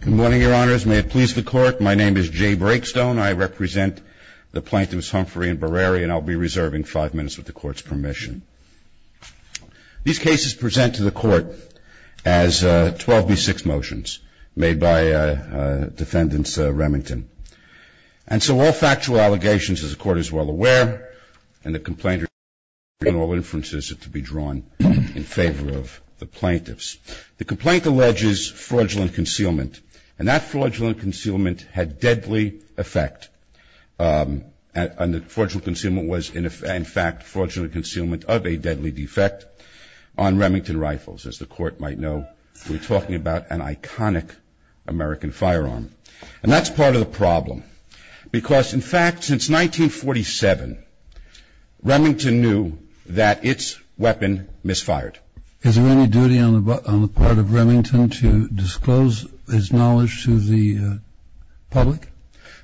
Good morning, Your Honors. May it please the Court, my name is Jay Brakestone. I represent the plaintiffs Humphrey and Bereri, and I'll be reserving five minutes with the Court's permission. These cases present to the Court as 12B6 motions made by defendants Remington. And so all factual allegations, as the Court is well aware, and the complainers, and all inferences are to be drawn in favor of the plaintiffs. The complaint alleges fraudulent concealment. And that fraudulent concealment had deadly effect. And the fraudulent concealment was, in fact, fraudulent concealment of a deadly defect on Remington rifles, as the Court might know. We're talking about an iconic American firearm. And that's part of the problem. Because, in fact, since 1947, Remington knew that its weapon misfired. Is there any duty on the part of Remington to disclose his knowledge to the public?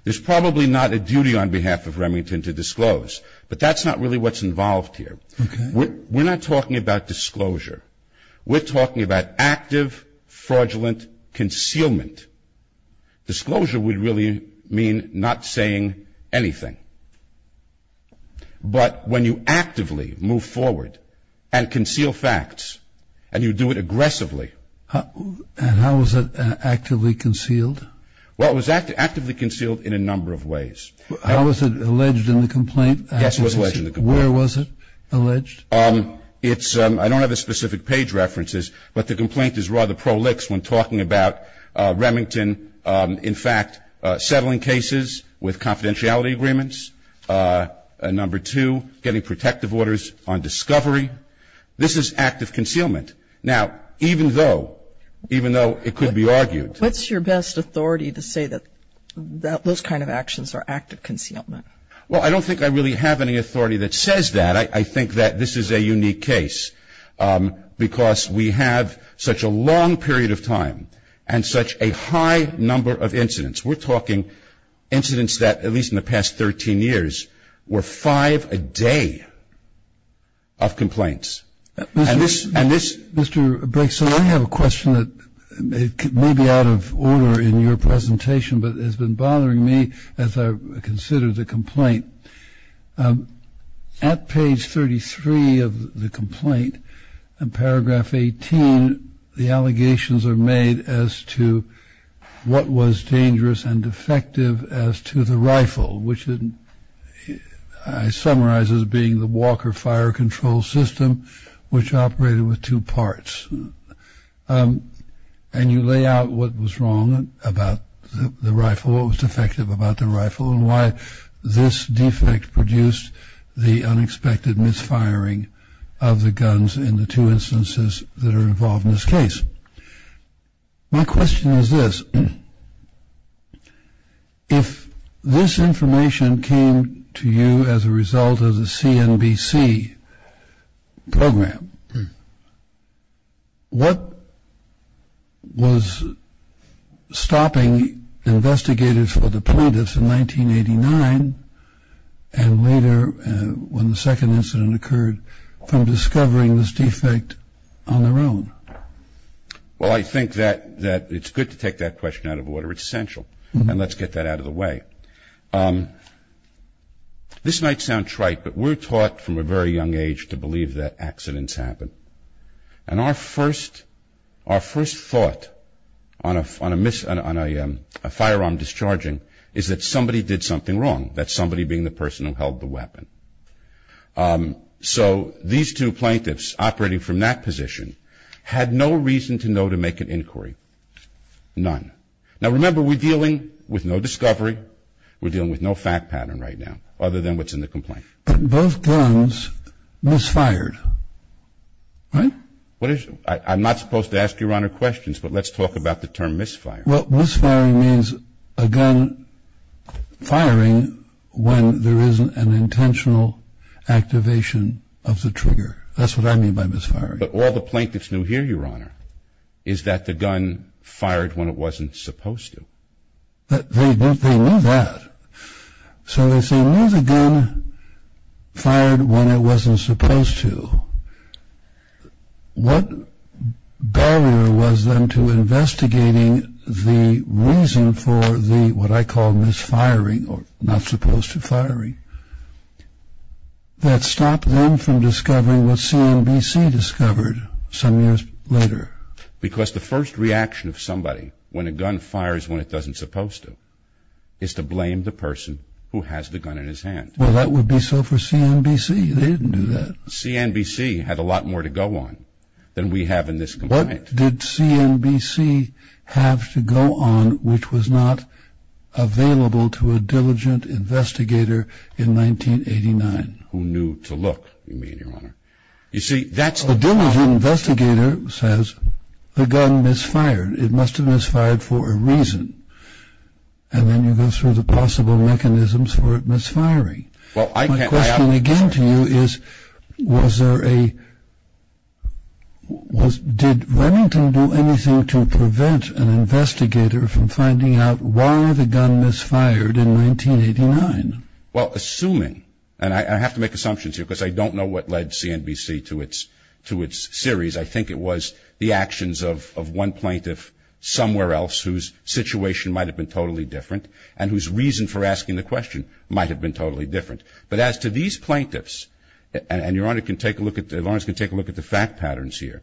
There's probably not a duty on behalf of Remington to disclose. But that's not really what's involved here. We're not talking about disclosure. We're talking about active, fraudulent concealment. Disclosure would really mean not saying anything. But when you actively move forward and conceal facts, and you do it aggressively... And how was it actively concealed? Well, it was actively concealed in a number of ways. How was it alleged in the complaint? Yes, it was alleged in the complaint. Where was it alleged? I don't have the specific page references, but the complaint is rather prolix when talking about Remington, in fact, settling cases with confidentiality agreements. Number two, getting protective orders on discovery. This is active concealment. Now, even though, even though it could be argued... What's your best authority to say that those kind of actions are active concealment? Well, I don't think I really have any authority that says that. I think that this is a unique case because we have such a long period of time and such a high number of incidents. We're talking incidents that, at least in the past 13 years, were five a day of complaints. And this... Mr. Briggs, I have a question that may be out of order in your presentation, but has been bothering me as I consider the complaint. At page 33 of the complaint, in paragraph 18, the allegations are made as to what was dangerous and defective as to the rifle, which I summarize as being the Walker fire control system, which operated with two parts. And you lay out what was wrong about the rifle, what was defective about the rifle, and why this defect produced the unexpected misfiring of the guns in the two instances that are involved in this case. My question is this. If this information came to you as a result of the CNBC program, what was stopping investigators for the plaintiffs in 1989 and later when the second incident occurred from discovering this defect on their own? Well, I think that it's good to take that question out of order. It's essential. And let's get that out of the way. All right. This might sound trite, but we're taught from a very young age to believe that accidents happen. And our first thought on a firearm discharging is that somebody did something wrong, that somebody being the person who held the weapon. So these two plaintiffs operating from that position had no reason to know to make an inquiry, none. Now, remember, we're dealing with no discovery. We're dealing with no fact pattern right now other than what's in the complaint. But both guns misfired, right? I'm not supposed to ask Your Honor questions, but let's talk about the term misfire. Well, misfiring means a gun firing when there isn't an intentional activation of the trigger. That's what I mean by misfiring. But all the plaintiffs knew here, Your Honor, is that the gun fired when it wasn't supposed to. They knew that. So if they knew the gun fired when it wasn't supposed to, what barrier was then to investigating the reason for the, what I call, misfiring, or not supposed to firing that stopped them from discovering what CNBC discovered some years later? Because the first reaction of somebody when a gun fires when it doesn't supposed to is to blame the person who has the gun in his hand. Well, that would be so for CNBC. They didn't do that. CNBC had a lot more to go on than we have in this complaint. In fact, did CNBC have to go on, which was not available to a diligent investigator in 1989? Who knew to look, you mean, Your Honor? You see, that's the problem. A diligent investigator says the gun misfired. It must have misfired for a reason. And then you go through the possible mechanisms for it misfiring. My question again to you is, was there a, did Remington do anything to prevent an investigator from finding out why the gun misfired in 1989? Well, assuming, and I have to make assumptions here because I don't know what led CNBC to its series. I think it was the actions of one plaintiff somewhere else whose situation might have been totally different and whose reason for asking the question might have been totally different. But as to these plaintiffs, and Your Honor can take a look at, Lawrence can take a look at the fact patterns here.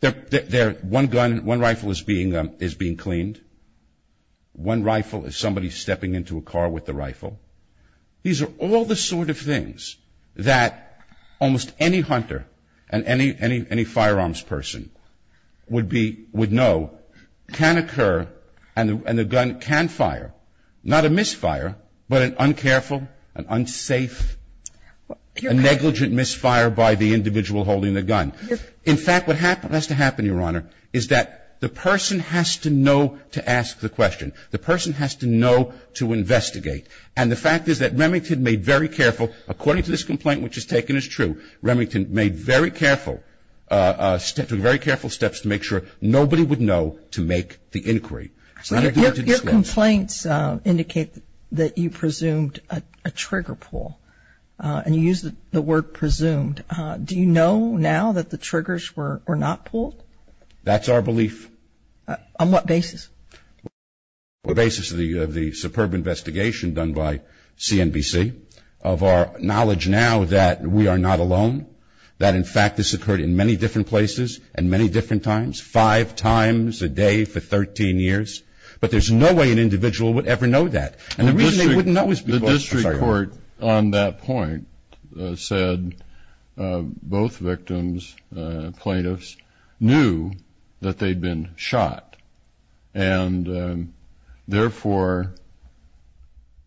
They're, one gun, one rifle is being cleaned. One rifle is somebody stepping into a car with a rifle. These are all the sort of things that almost any hunter and any firearms person would be, would know can occur and the gun can fire. Not a misfire, but an uncareful, an unsafe, a negligent misfire by the individual holding the gun. In fact, what has to happen, Your Honor, is that the person has to know to ask the question. The person has to know to investigate. And the fact is that Remington made very careful, according to this complaint which is taken as true, Remington made very careful, took very careful steps to make sure nobody would know to make the inquiry. Your complaints indicate that you presumed a trigger pull. And you used the word presumed. Do you know now that the triggers were not pulled? That's our belief. On what basis? On the basis of the superb investigation done by CNBC, of our knowledge now that we are not alone, that, in fact, this occurred in many different places and many different times, five times a day for 13 years. But there's no way an individual would ever know that. And the reason they wouldn't know is because the district court on that point said both victims, plaintiffs, knew that they'd been shot. And, therefore,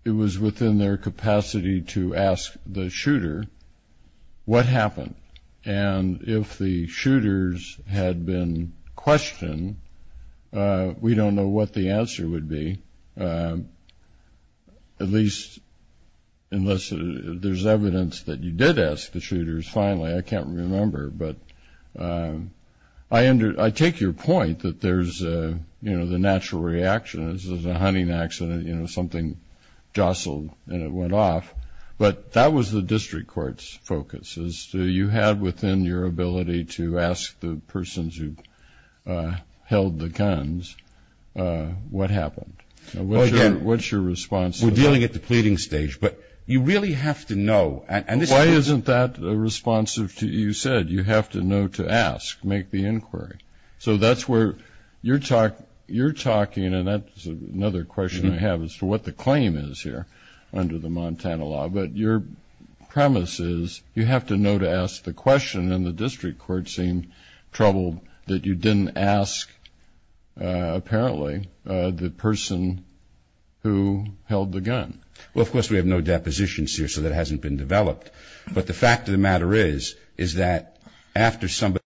it was within their capacity to ask the shooter what happened. And if the shooters had been questioned, we don't know what the answer would be, at least unless there's evidence that you did ask the shooters finally. I can't remember. But I take your point that there's, you know, the natural reaction is there's a hunting accident, you know, something jostled and it went off. But that was the district court's focus, as to you had within your ability to ask the persons who held the guns what happened. What's your response to that? Well, again, we're dealing at the pleading stage. But you really have to know. Why isn't that responsive to you said? You have to know to ask, make the inquiry. So that's where you're talking, and that's another question I have, as to what the claim is here under the Montana law. But your premise is you have to know to ask the question, and the district court seemed troubled that you didn't ask, apparently, the person who held the gun. Well, of course, we have no depositions here, so that hasn't been developed. But the fact of the matter is, is that after somebody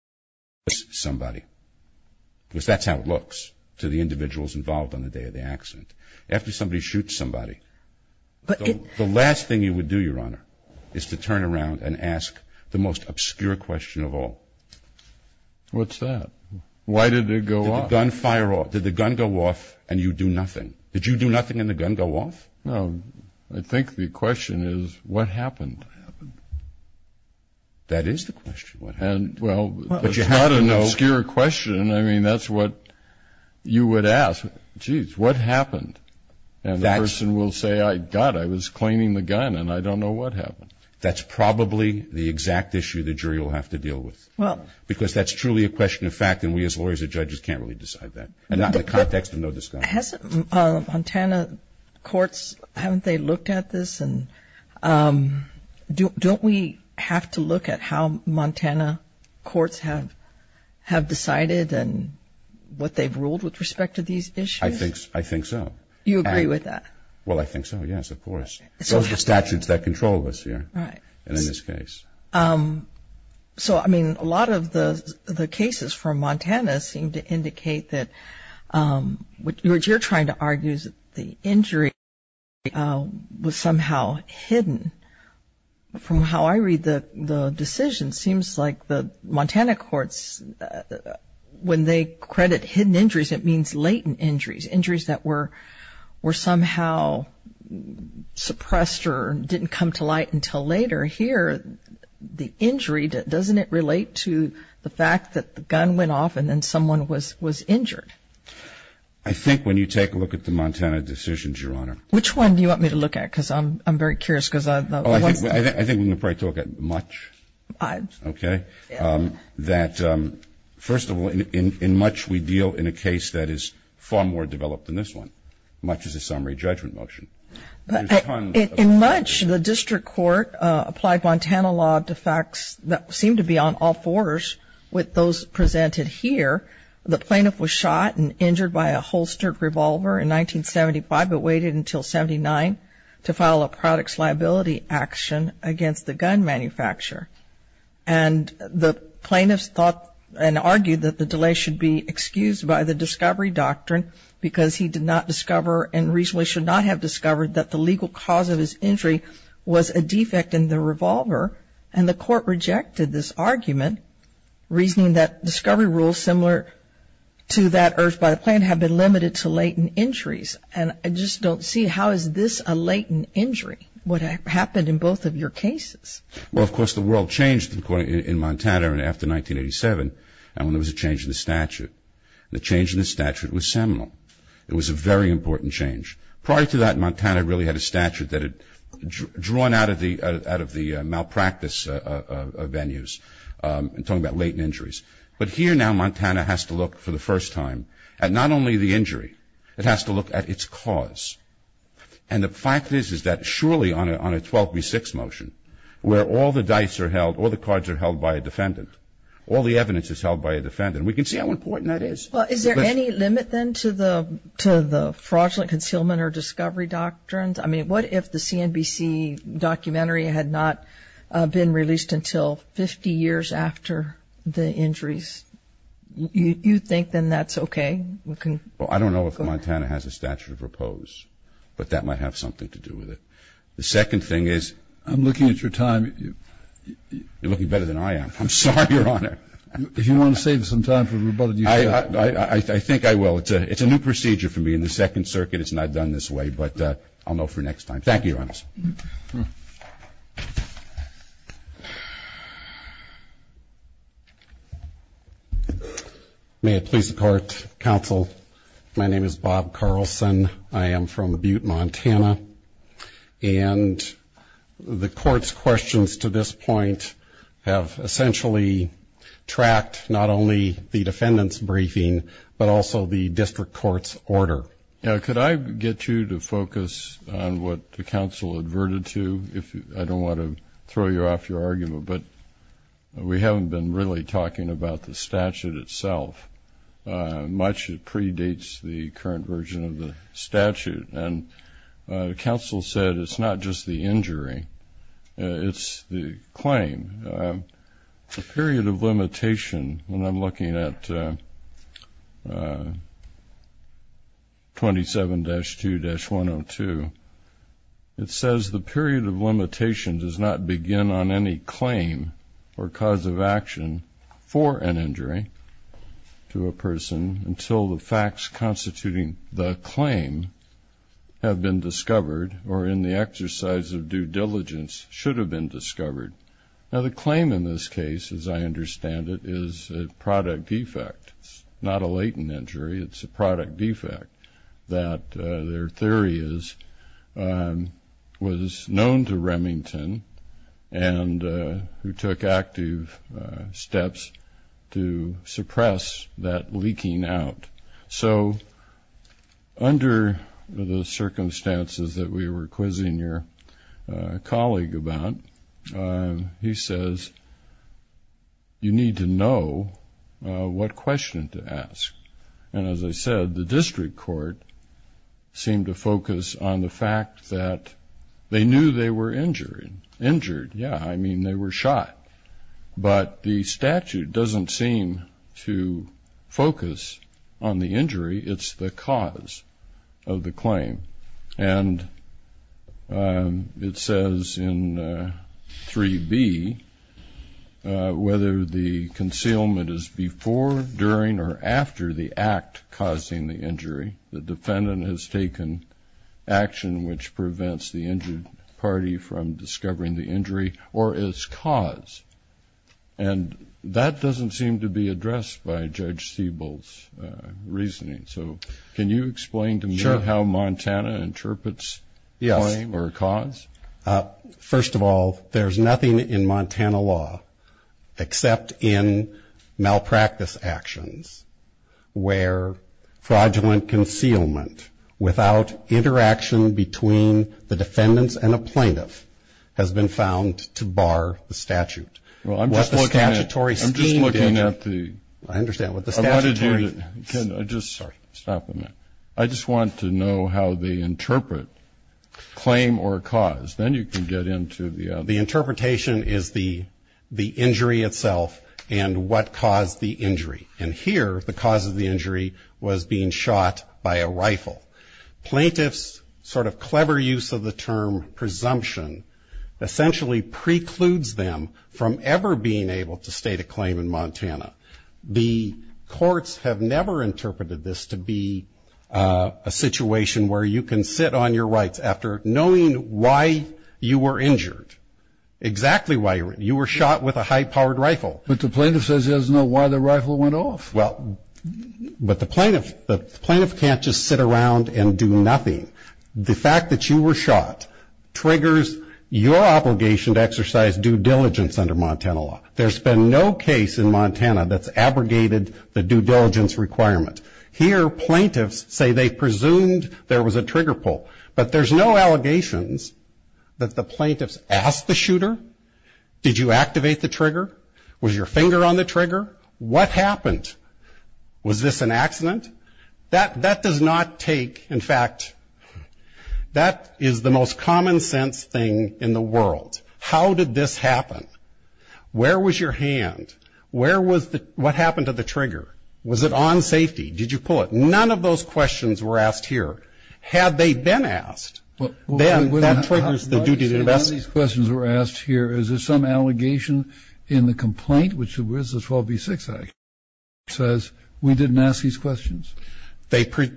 shoots somebody, because that's how it looks to the individuals involved on the day of the accident, after somebody shoots somebody, the last thing you would do, Your Honor, is to turn around and ask the most obscure question of all. What's that? Why did it go off? Did the gun fire off? Did the gun go off and you do nothing? Did you do nothing and the gun go off? No. I think the question is, what happened? What happened? That is the question. What happened? Well, it's not an obscure question. I mean, that's what you would ask. Jeez, what happened? And the person will say, God, I was claiming the gun, and I don't know what happened. That's probably the exact issue the jury will have to deal with, because that's truly a question of fact, and we as lawyers and judges can't really decide that, and not in the context of no discussion. Montana courts, haven't they looked at this? Don't we have to look at how Montana courts have decided and what they've ruled with respect to these issues? I think so. You agree with that? Well, I think so, yes, of course. Those are the statutes that control us here and in this case. So, I mean, a lot of the cases from Montana seem to indicate that, what you're trying to argue is that the injury was somehow hidden. From how I read the decision, it seems like the Montana courts, when they credit hidden injuries, it means latent injuries, injuries that were somehow suppressed or didn't come to light until later. Here, the injury, doesn't it relate to the fact that the gun went off and then someone was injured? I think when you take a look at the Montana decisions, Your Honor. Which one do you want me to look at? Because I'm very curious. Oh, I think we're going to probably talk at much, okay? That, first of all, in much we deal in a case that is far more developed than this one. Much is a summary judgment motion. In much, the district court applied Montana law to facts that seem to be on all fours. With those presented here, the plaintiff was shot and injured by a holstered revolver in 1975, but waited until 79 to file a products liability action against the gun manufacturer. And the plaintiff thought and argued that the delay should be excused by the discovery doctrine because he did not discover and reasonably should not have discovered that the legal cause of his injury was a defect in the revolver, and the court rejected this argument, reasoning that discovery rules similar to that urged by the plaintiff have been limited to latent injuries. And I just don't see how is this a latent injury? What happened in both of your cases? Well, of course, the world changed in Montana after 1987 when there was a change in the statute. The change in the statute was seminal. It was a very important change. Prior to that, Montana really had a statute that had drawn out of the malpractice venues and talking about latent injuries. But here now Montana has to look for the first time at not only the injury. It has to look at its cause. And the fact is that surely on a 12 v. 6 motion where all the dice are held, all the cards are held by a defendant, all the evidence is held by a defendant, and we can see how important that is. Well, is there any limit then to the fraudulent concealment or discovery doctrines? I mean, what if the CNBC documentary had not been released until 50 years after the injuries? You think then that's okay? Well, I don't know if Montana has a statute of repose. But that might have something to do with it. The second thing is you're looking better than I am. I'm sorry, Your Honor. If you want to save some time for rebuttal, you should. I think I will. It's a new procedure for me in the Second Circuit. It's not done this way. But I'll know for next time. Thank you, Your Honor. May it please the Court, Counsel. My name is Bob Carlson. I am from Butte, Montana. And the Court's questions to this point have essentially tracked not only the defendant's briefing but also the district court's order. Could I get you to focus on what the counsel adverted to? I don't want to throw you off your argument, but we haven't been really talking about the statute itself much. The counsel said it's not just the injury, it's the claim. The period of limitation, when I'm looking at 27-2-102, it says the period of limitation does not begin on any claim or cause of action for an injury to a person until the facts constituting the claim have been discovered or in the exercise of due diligence should have been discovered. Now, the claim in this case, as I understand it, is a product defect. It's not a latent injury. It's a product defect that their theory is was known to Remington and who took active steps to suppress that leaking out. So under the circumstances that we were quizzing your colleague about, he says you need to know what question to ask. And as I said, the district court seemed to focus on the fact that they knew they were injured. Yeah, I mean, they were shot. But the statute doesn't seem to focus on the injury. And it says in 3B, whether the concealment is before, during, or after the act causing the injury, the defendant has taken action which prevents the injured party from discovering the injury or its cause. And that doesn't seem to be addressed by Judge Siebel's reasoning. So can you explain to me how Montana interprets claim or cause? First of all, there's nothing in Montana law except in malpractice actions where fraudulent concealment without interaction between the defendants and a plaintiff has been found to bar the statute. Well, I'm just looking at the statutory. I just want to know how they interpret claim or cause. Then you can get into the other. The interpretation is the injury itself and what caused the injury. And here the cause of the injury was being shot by a rifle. Plaintiff's sort of clever use of the term presumption essentially precludes them from ever being able to state a claim in Montana. The courts have never interpreted this to be a situation where you can sit on your rights after knowing why you were injured, exactly why you were shot with a high-powered rifle. But the plaintiff says he doesn't know why the rifle went off. Well, but the plaintiff can't just sit around and do nothing. The fact that you were shot triggers your obligation to exercise due diligence under Montana law. There's been no case in Montana that's abrogated the due diligence requirement. Here plaintiffs say they presumed there was a trigger pull. But there's no allegations that the plaintiffs asked the shooter, did you activate the trigger? Was your finger on the trigger? What happened? Was this an accident? That does not take, in fact, that is the most common sense thing in the world. How did this happen? Where was your hand? What happened to the trigger? Was it on safety? Did you pull it? None of those questions were asked here. Had they been asked, then that triggers the duty to investigate. None of these questions were asked here. Is there some allegation in the complaint, which was the 12B6 Act, says we didn't ask these questions?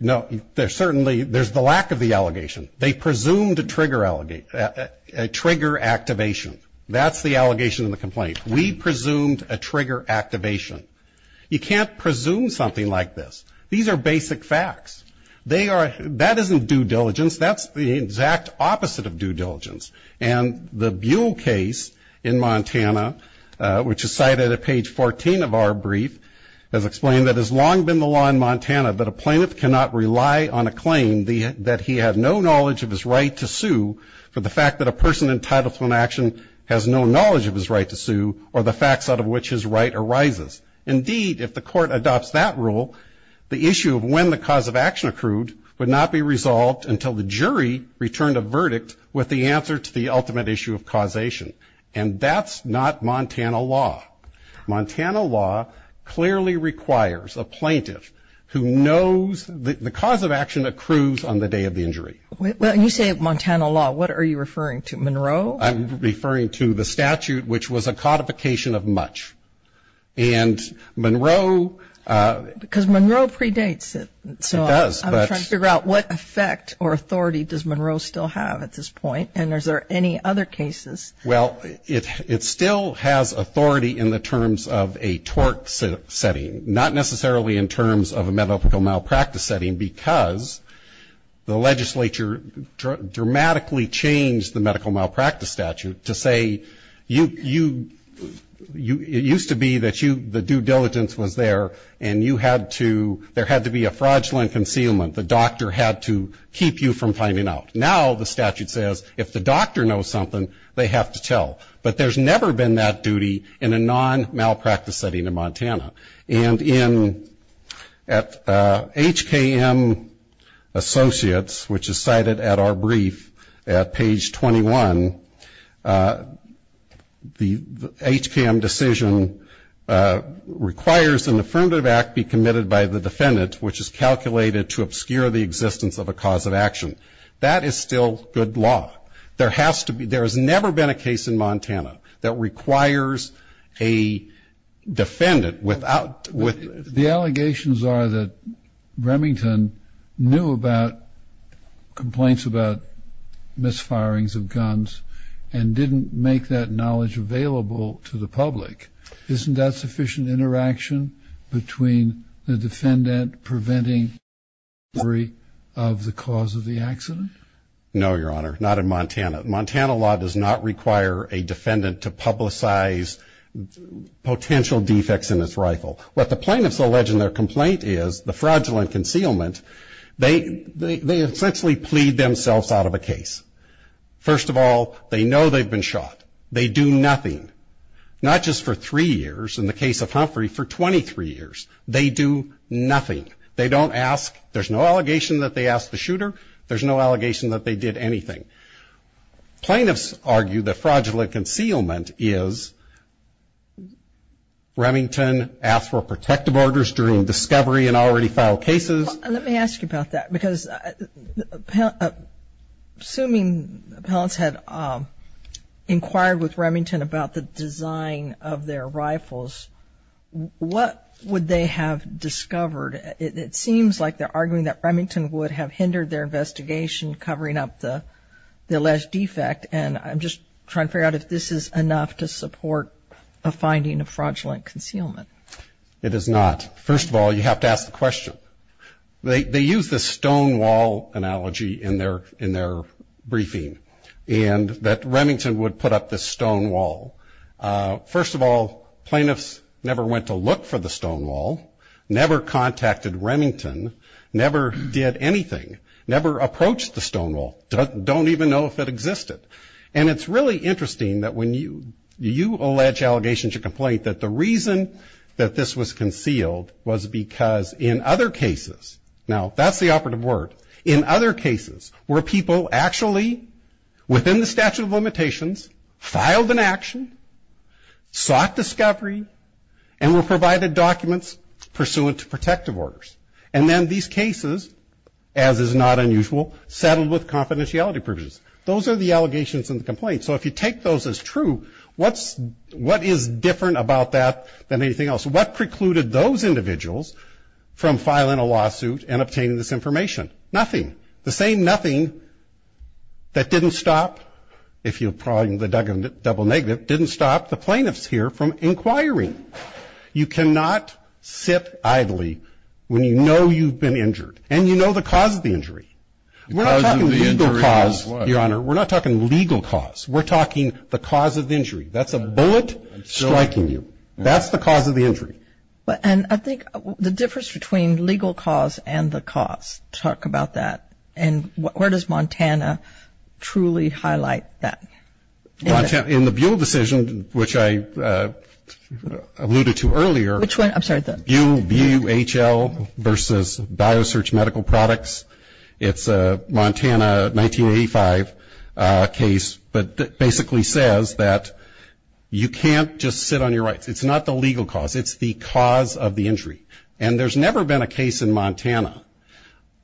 No. Certainly there's the lack of the allegation. They presumed a trigger activation. That's the allegation in the complaint. We presumed a trigger activation. You can't presume something like this. These are basic facts. That isn't due diligence. That's the exact opposite of due diligence. And the Buell case in Montana, which is cited at page 14 of our brief, has explained that it has long been the law in Montana that a plaintiff cannot rely on a claim that he had no knowledge of his right to sue for the fact that a person entitled to an action has no knowledge of his right to sue or the facts out of which his right arises. Indeed, if the court adopts that rule, the issue of when the cause of action accrued would not be resolved until the jury returned a verdict with the answer to the ultimate issue of causation. And that's not Montana law. Montana law clearly requires a plaintiff who knows the cause of action accrues on the day of the injury. When you say Montana law, what are you referring to, Monroe? I'm referring to the statute, which was a codification of much. And Monroe ---- Because Monroe predates it. It does, but ---- I'm trying to figure out what effect or authority does Monroe still have at this point, and is there any other cases? Well, it still has authority in the terms of a tort setting, not necessarily in terms of a medical malpractice setting, because the legislature dramatically changed the medical malpractice statute to say you ---- it used to be that the due diligence was there and you had to ---- there had to be a fraudulent concealment, the doctor had to keep you from finding out. Now the statute says if the doctor knows something, they have to tell. But there's never been that duty in a non-malpractice setting in Montana. And in ---- at HKM Associates, which is cited at our brief at page 21, the HKM decision requires an affirmative act be committed by the defendant, which is calculated to obscure the existence of a cause of action. That is still good law. There has to be ---- there has never been a case in Montana that requires a defendant without ---- The allegations are that Remington knew about complaints about misfirings of guns and didn't make that knowledge available to the public. Isn't that sufficient interaction between the defendant preventing ---- of the cause of the accident? No, Your Honor, not in Montana. Montana law does not require a defendant to publicize potential defects in his rifle. What the plaintiffs allege in their complaint is the fraudulent concealment, they essentially plead themselves out of a case. First of all, they know they've been shot. They do nothing, not just for three years, in the case of Humphrey, for 23 years. They do nothing. They don't ask. There's no allegation that they asked the shooter. There's no allegation that they did anything. Plaintiffs argue that fraudulent concealment is Remington asked for protective orders during discovery and already filed cases. Well, let me ask you about that because assuming appellants had inquired with Remington about the design of their rifles, what would they have discovered? It seems like they're arguing that Remington would have hindered their investigation, covering up the alleged defect, and I'm just trying to figure out if this is enough to support a finding of fraudulent concealment. It is not. First of all, you have to ask the question. They use the stonewall analogy in their briefing, and that Remington would put up this stonewall. First of all, plaintiffs never went to look for the stonewall, never contacted Remington, never did anything, never approached the stonewall, don't even know if it existed. And it's really interesting that when you allege allegations of complaint, that the reason that this was concealed was because in other cases, now that's the operative word, in other cases where people actually, within the statute of limitations, filed an action, sought discovery, and were provided documents pursuant to protective orders. And then these cases, as is not unusual, settled with confidentiality provisions. Those are the allegations and the complaints. So if you take those as true, what is different about that than anything else? What precluded those individuals from filing a lawsuit and obtaining this information? Nothing. The same nothing that didn't stop, if you'll pardon the double negative, didn't stop the plaintiffs here from inquiring. You cannot sit idly when you know you've been injured, and you know the cause of the injury. We're not talking legal cause, Your Honor. We're not talking legal cause. We're talking the cause of the injury. That's a bullet striking you. That's the cause of the injury. And I think the difference between legal cause and the cause, talk about that. And where does Montana truly highlight that? In the Buhl decision, which I alluded to earlier. Which one? I'm sorry. Buhl versus BioSearch Medical Products. It's a Montana 1985 case, but basically says that you can't just sit on your rights. It's not the legal cause. It's the cause of the injury. And there's never been a case in Montana,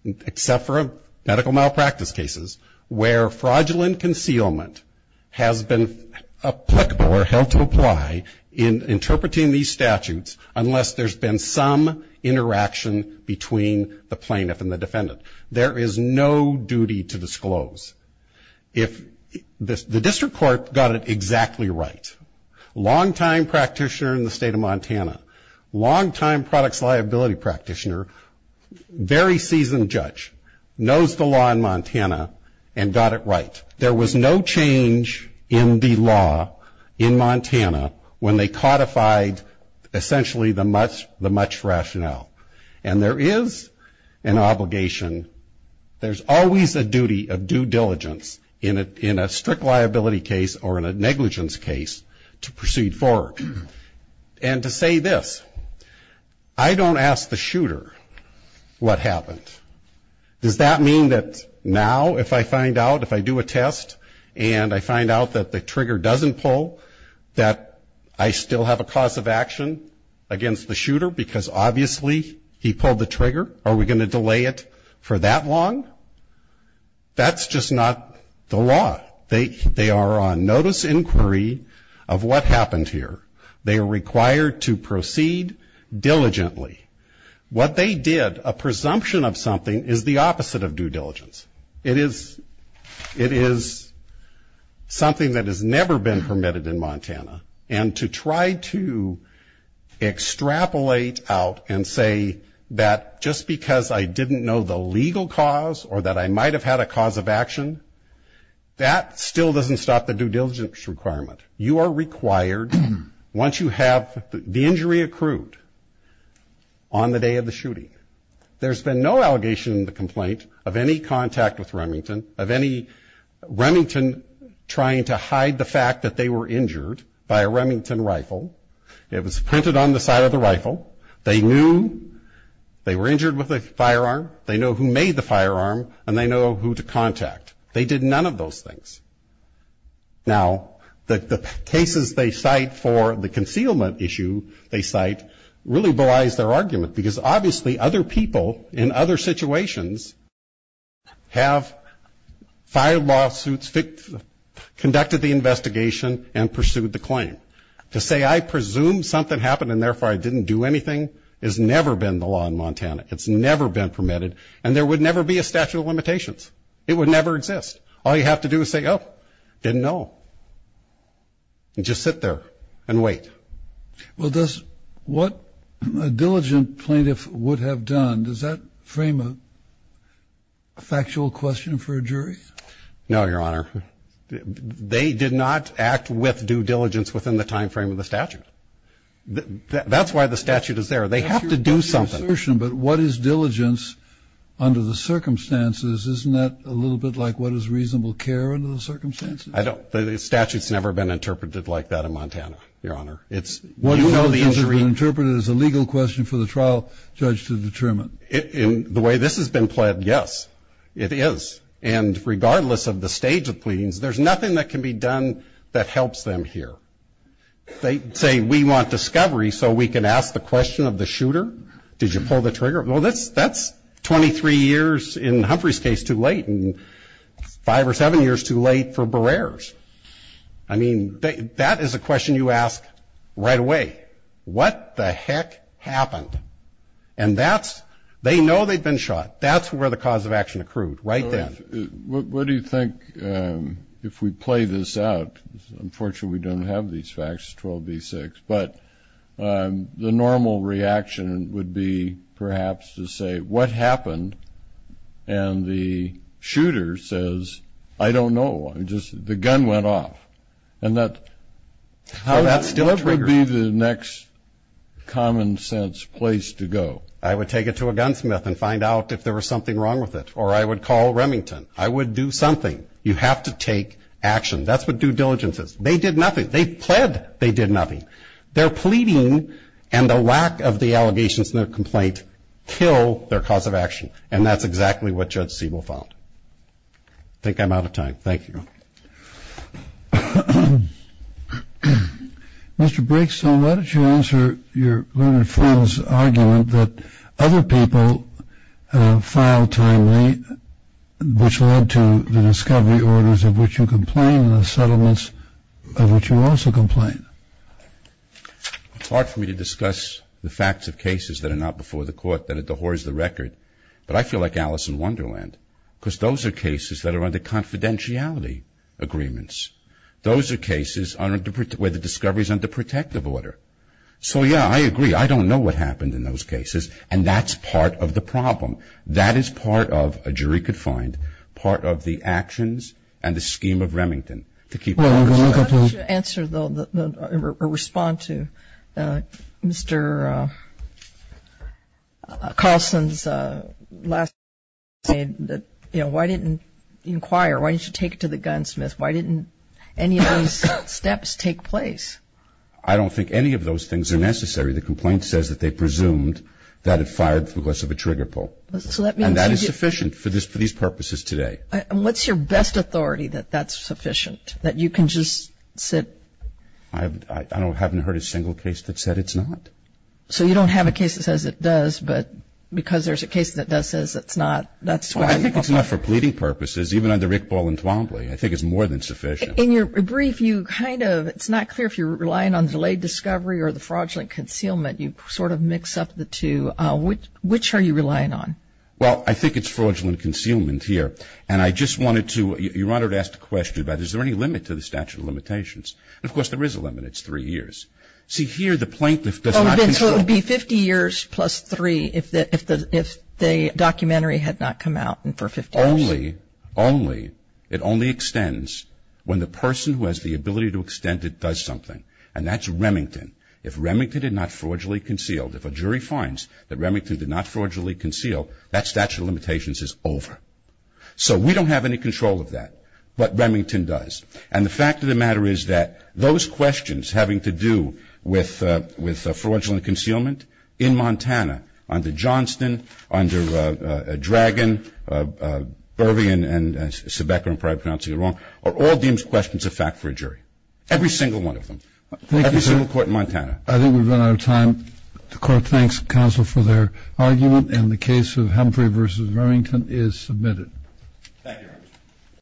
except for medical malpractice cases, where fraudulent concealment has been applicable or held to apply in interpreting these statutes, unless there's been some interaction between the plaintiff and the defendant. There is no duty to disclose. If the district court got it exactly right, long-time practitioner in the state of Montana, long-time products liability practitioner, very seasoned judge, knows the law in Montana and got it right. There was no change in the law in Montana when they codified essentially the much rationale. And there is an obligation, there's always a duty of due diligence in a strict liability case or in a negligence case to proceed forward. And to say this, I don't ask the shooter what happened. Does that mean that now if I find out, if I do a test and I find out that the trigger doesn't pull, that I still have a cause of action against the shooter, because obviously he pulled the trigger? Are we going to delay it for that long? That's just not the law. They are on notice inquiry of what happened here. They are required to proceed diligently. What they did, a presumption of something is the opposite of due diligence. It is something that has never been permitted in Montana. And to try to extrapolate out and say that just because I didn't know the legal cause or that I might have had a cause of action, that still doesn't stop the due diligence requirement. You are required, once you have the injury accrued on the day of the shooting, there's been no allegation in the complaint of any contact with Remington, of any Remington trying to hide the fact that they were injured by a Remington rifle. It was printed on the side of the rifle. They knew they were injured with a firearm. They know who made the firearm, and they know who to contact. They did none of those things. Now, the cases they cite for the concealment issue they cite really belies their argument, because obviously other people in other situations have filed lawsuits, conducted the investigation and pursued the claim. To say I presume something happened and therefore I didn't do anything has never been the law in Montana. It's never been permitted, and there would never be a statute of limitations. It would never exist. All you have to do is say, oh, didn't know, and just sit there and wait. Well, does what a diligent plaintiff would have done, does that frame a factual question for a jury? No, Your Honor. They did not act with due diligence within the timeframe of the statute. That's why the statute is there. They have to do something. That's your assertion, but what is diligence under the circumstances? Isn't that a little bit like what is reasonable care under the circumstances? I don't. The statute's never been interpreted like that in Montana, Your Honor. It's you know the injury. Well, it's never been interpreted as a legal question for the trial judge to determine. In the way this has been pled, yes, it is. And regardless of the stage of pleadings, there's nothing that can be done that helps them here. They say we want discovery so we can ask the question of the shooter. Did you pull the trigger? Well, that's 23 years in Humphrey's case too late and five or seven years too late for Barrer's. I mean, that is a question you ask right away. What the heck happened? And that's, they know they've been shot. That's where the cause of action accrued, right then. What do you think, if we play this out, unfortunately we don't have these facts, 12B6, but the normal reaction would be perhaps to say, what happened? And the shooter says, I don't know. I just, the gun went off. And that, how that still triggers. What would be the next common sense place to go? I would take it to a gunsmith and find out if there was something wrong with it. Or I would call Remington. I would do something. You have to take action. That's what due diligence is. They did nothing. They pled. They did nothing. Their pleading and the lack of the allegations in their complaint kill their cause of action. And that's exactly what Judge Siebel found. I think I'm out of time. Thank you. Mr. Braxton, why don't you answer your learned friend's argument that other people file timely, which led to the discovery orders of which you complain and the settlements of which you also complain? It's hard for me to discuss the facts of cases that are not before the court, that it dehorses the record. But I feel like Alice in Wonderland, because those are cases that are under confidentiality agreements. Those are cases where the discovery is under protective order. So, yeah, I agree. I don't know what happened in those cases. And that's part of the problem. That is part of, a jury could find, part of the actions and the scheme of Remington to keep them. Why don't you answer or respond to Mr. Carlson's last statement that, you know, why didn't you inquire? Why didn't you take it to the gunsmith? Why didn't any of these steps take place? I don't think any of those things are necessary. The complaint says that they presumed that it fired because of a trigger pull. And that is sufficient for these purposes today. And what's your best authority that that's sufficient, that you can just sit? I haven't heard a single case that said it's not. So you don't have a case that says it does, but because there's a case that does says it's not, that's why. Well, I think it's not for pleading purposes, even under Rick Ball and Twombly. I think it's more than sufficient. In your brief, you kind of, it's not clear if you're relying on delayed discovery or the fraudulent concealment. You sort of mix up the two. Which are you relying on? Well, I think it's fraudulent concealment here. And I just wanted to, Your Honor, to ask the question about is there any limit to the statute of limitations? And, of course, there is a limit. It's three years. See, here the plaintiff does not control. So it would be 50 years plus three if the documentary had not come out and for 50 years. Only, only, it only extends when the person who has the ability to extend it does something. And that's Remington. If Remington did not fraudulently conceal, if a jury finds that Remington did not fraudulently conceal, that statute of limitations is over. So we don't have any control of that, but Remington does. And the fact of the matter is that those questions having to do with fraudulent concealment in Montana, under Johnston, under Dragon, Burvey and Sebecker, I'm probably pronouncing it wrong, are all deemed questions of fact for a jury. Every single one of them. Thank you, sir. Every single court in Montana. I think we've run out of time. The Court thanks counsel for their argument, and the case of Humphrey v. Remington is submitted. Thank you, Your Honor.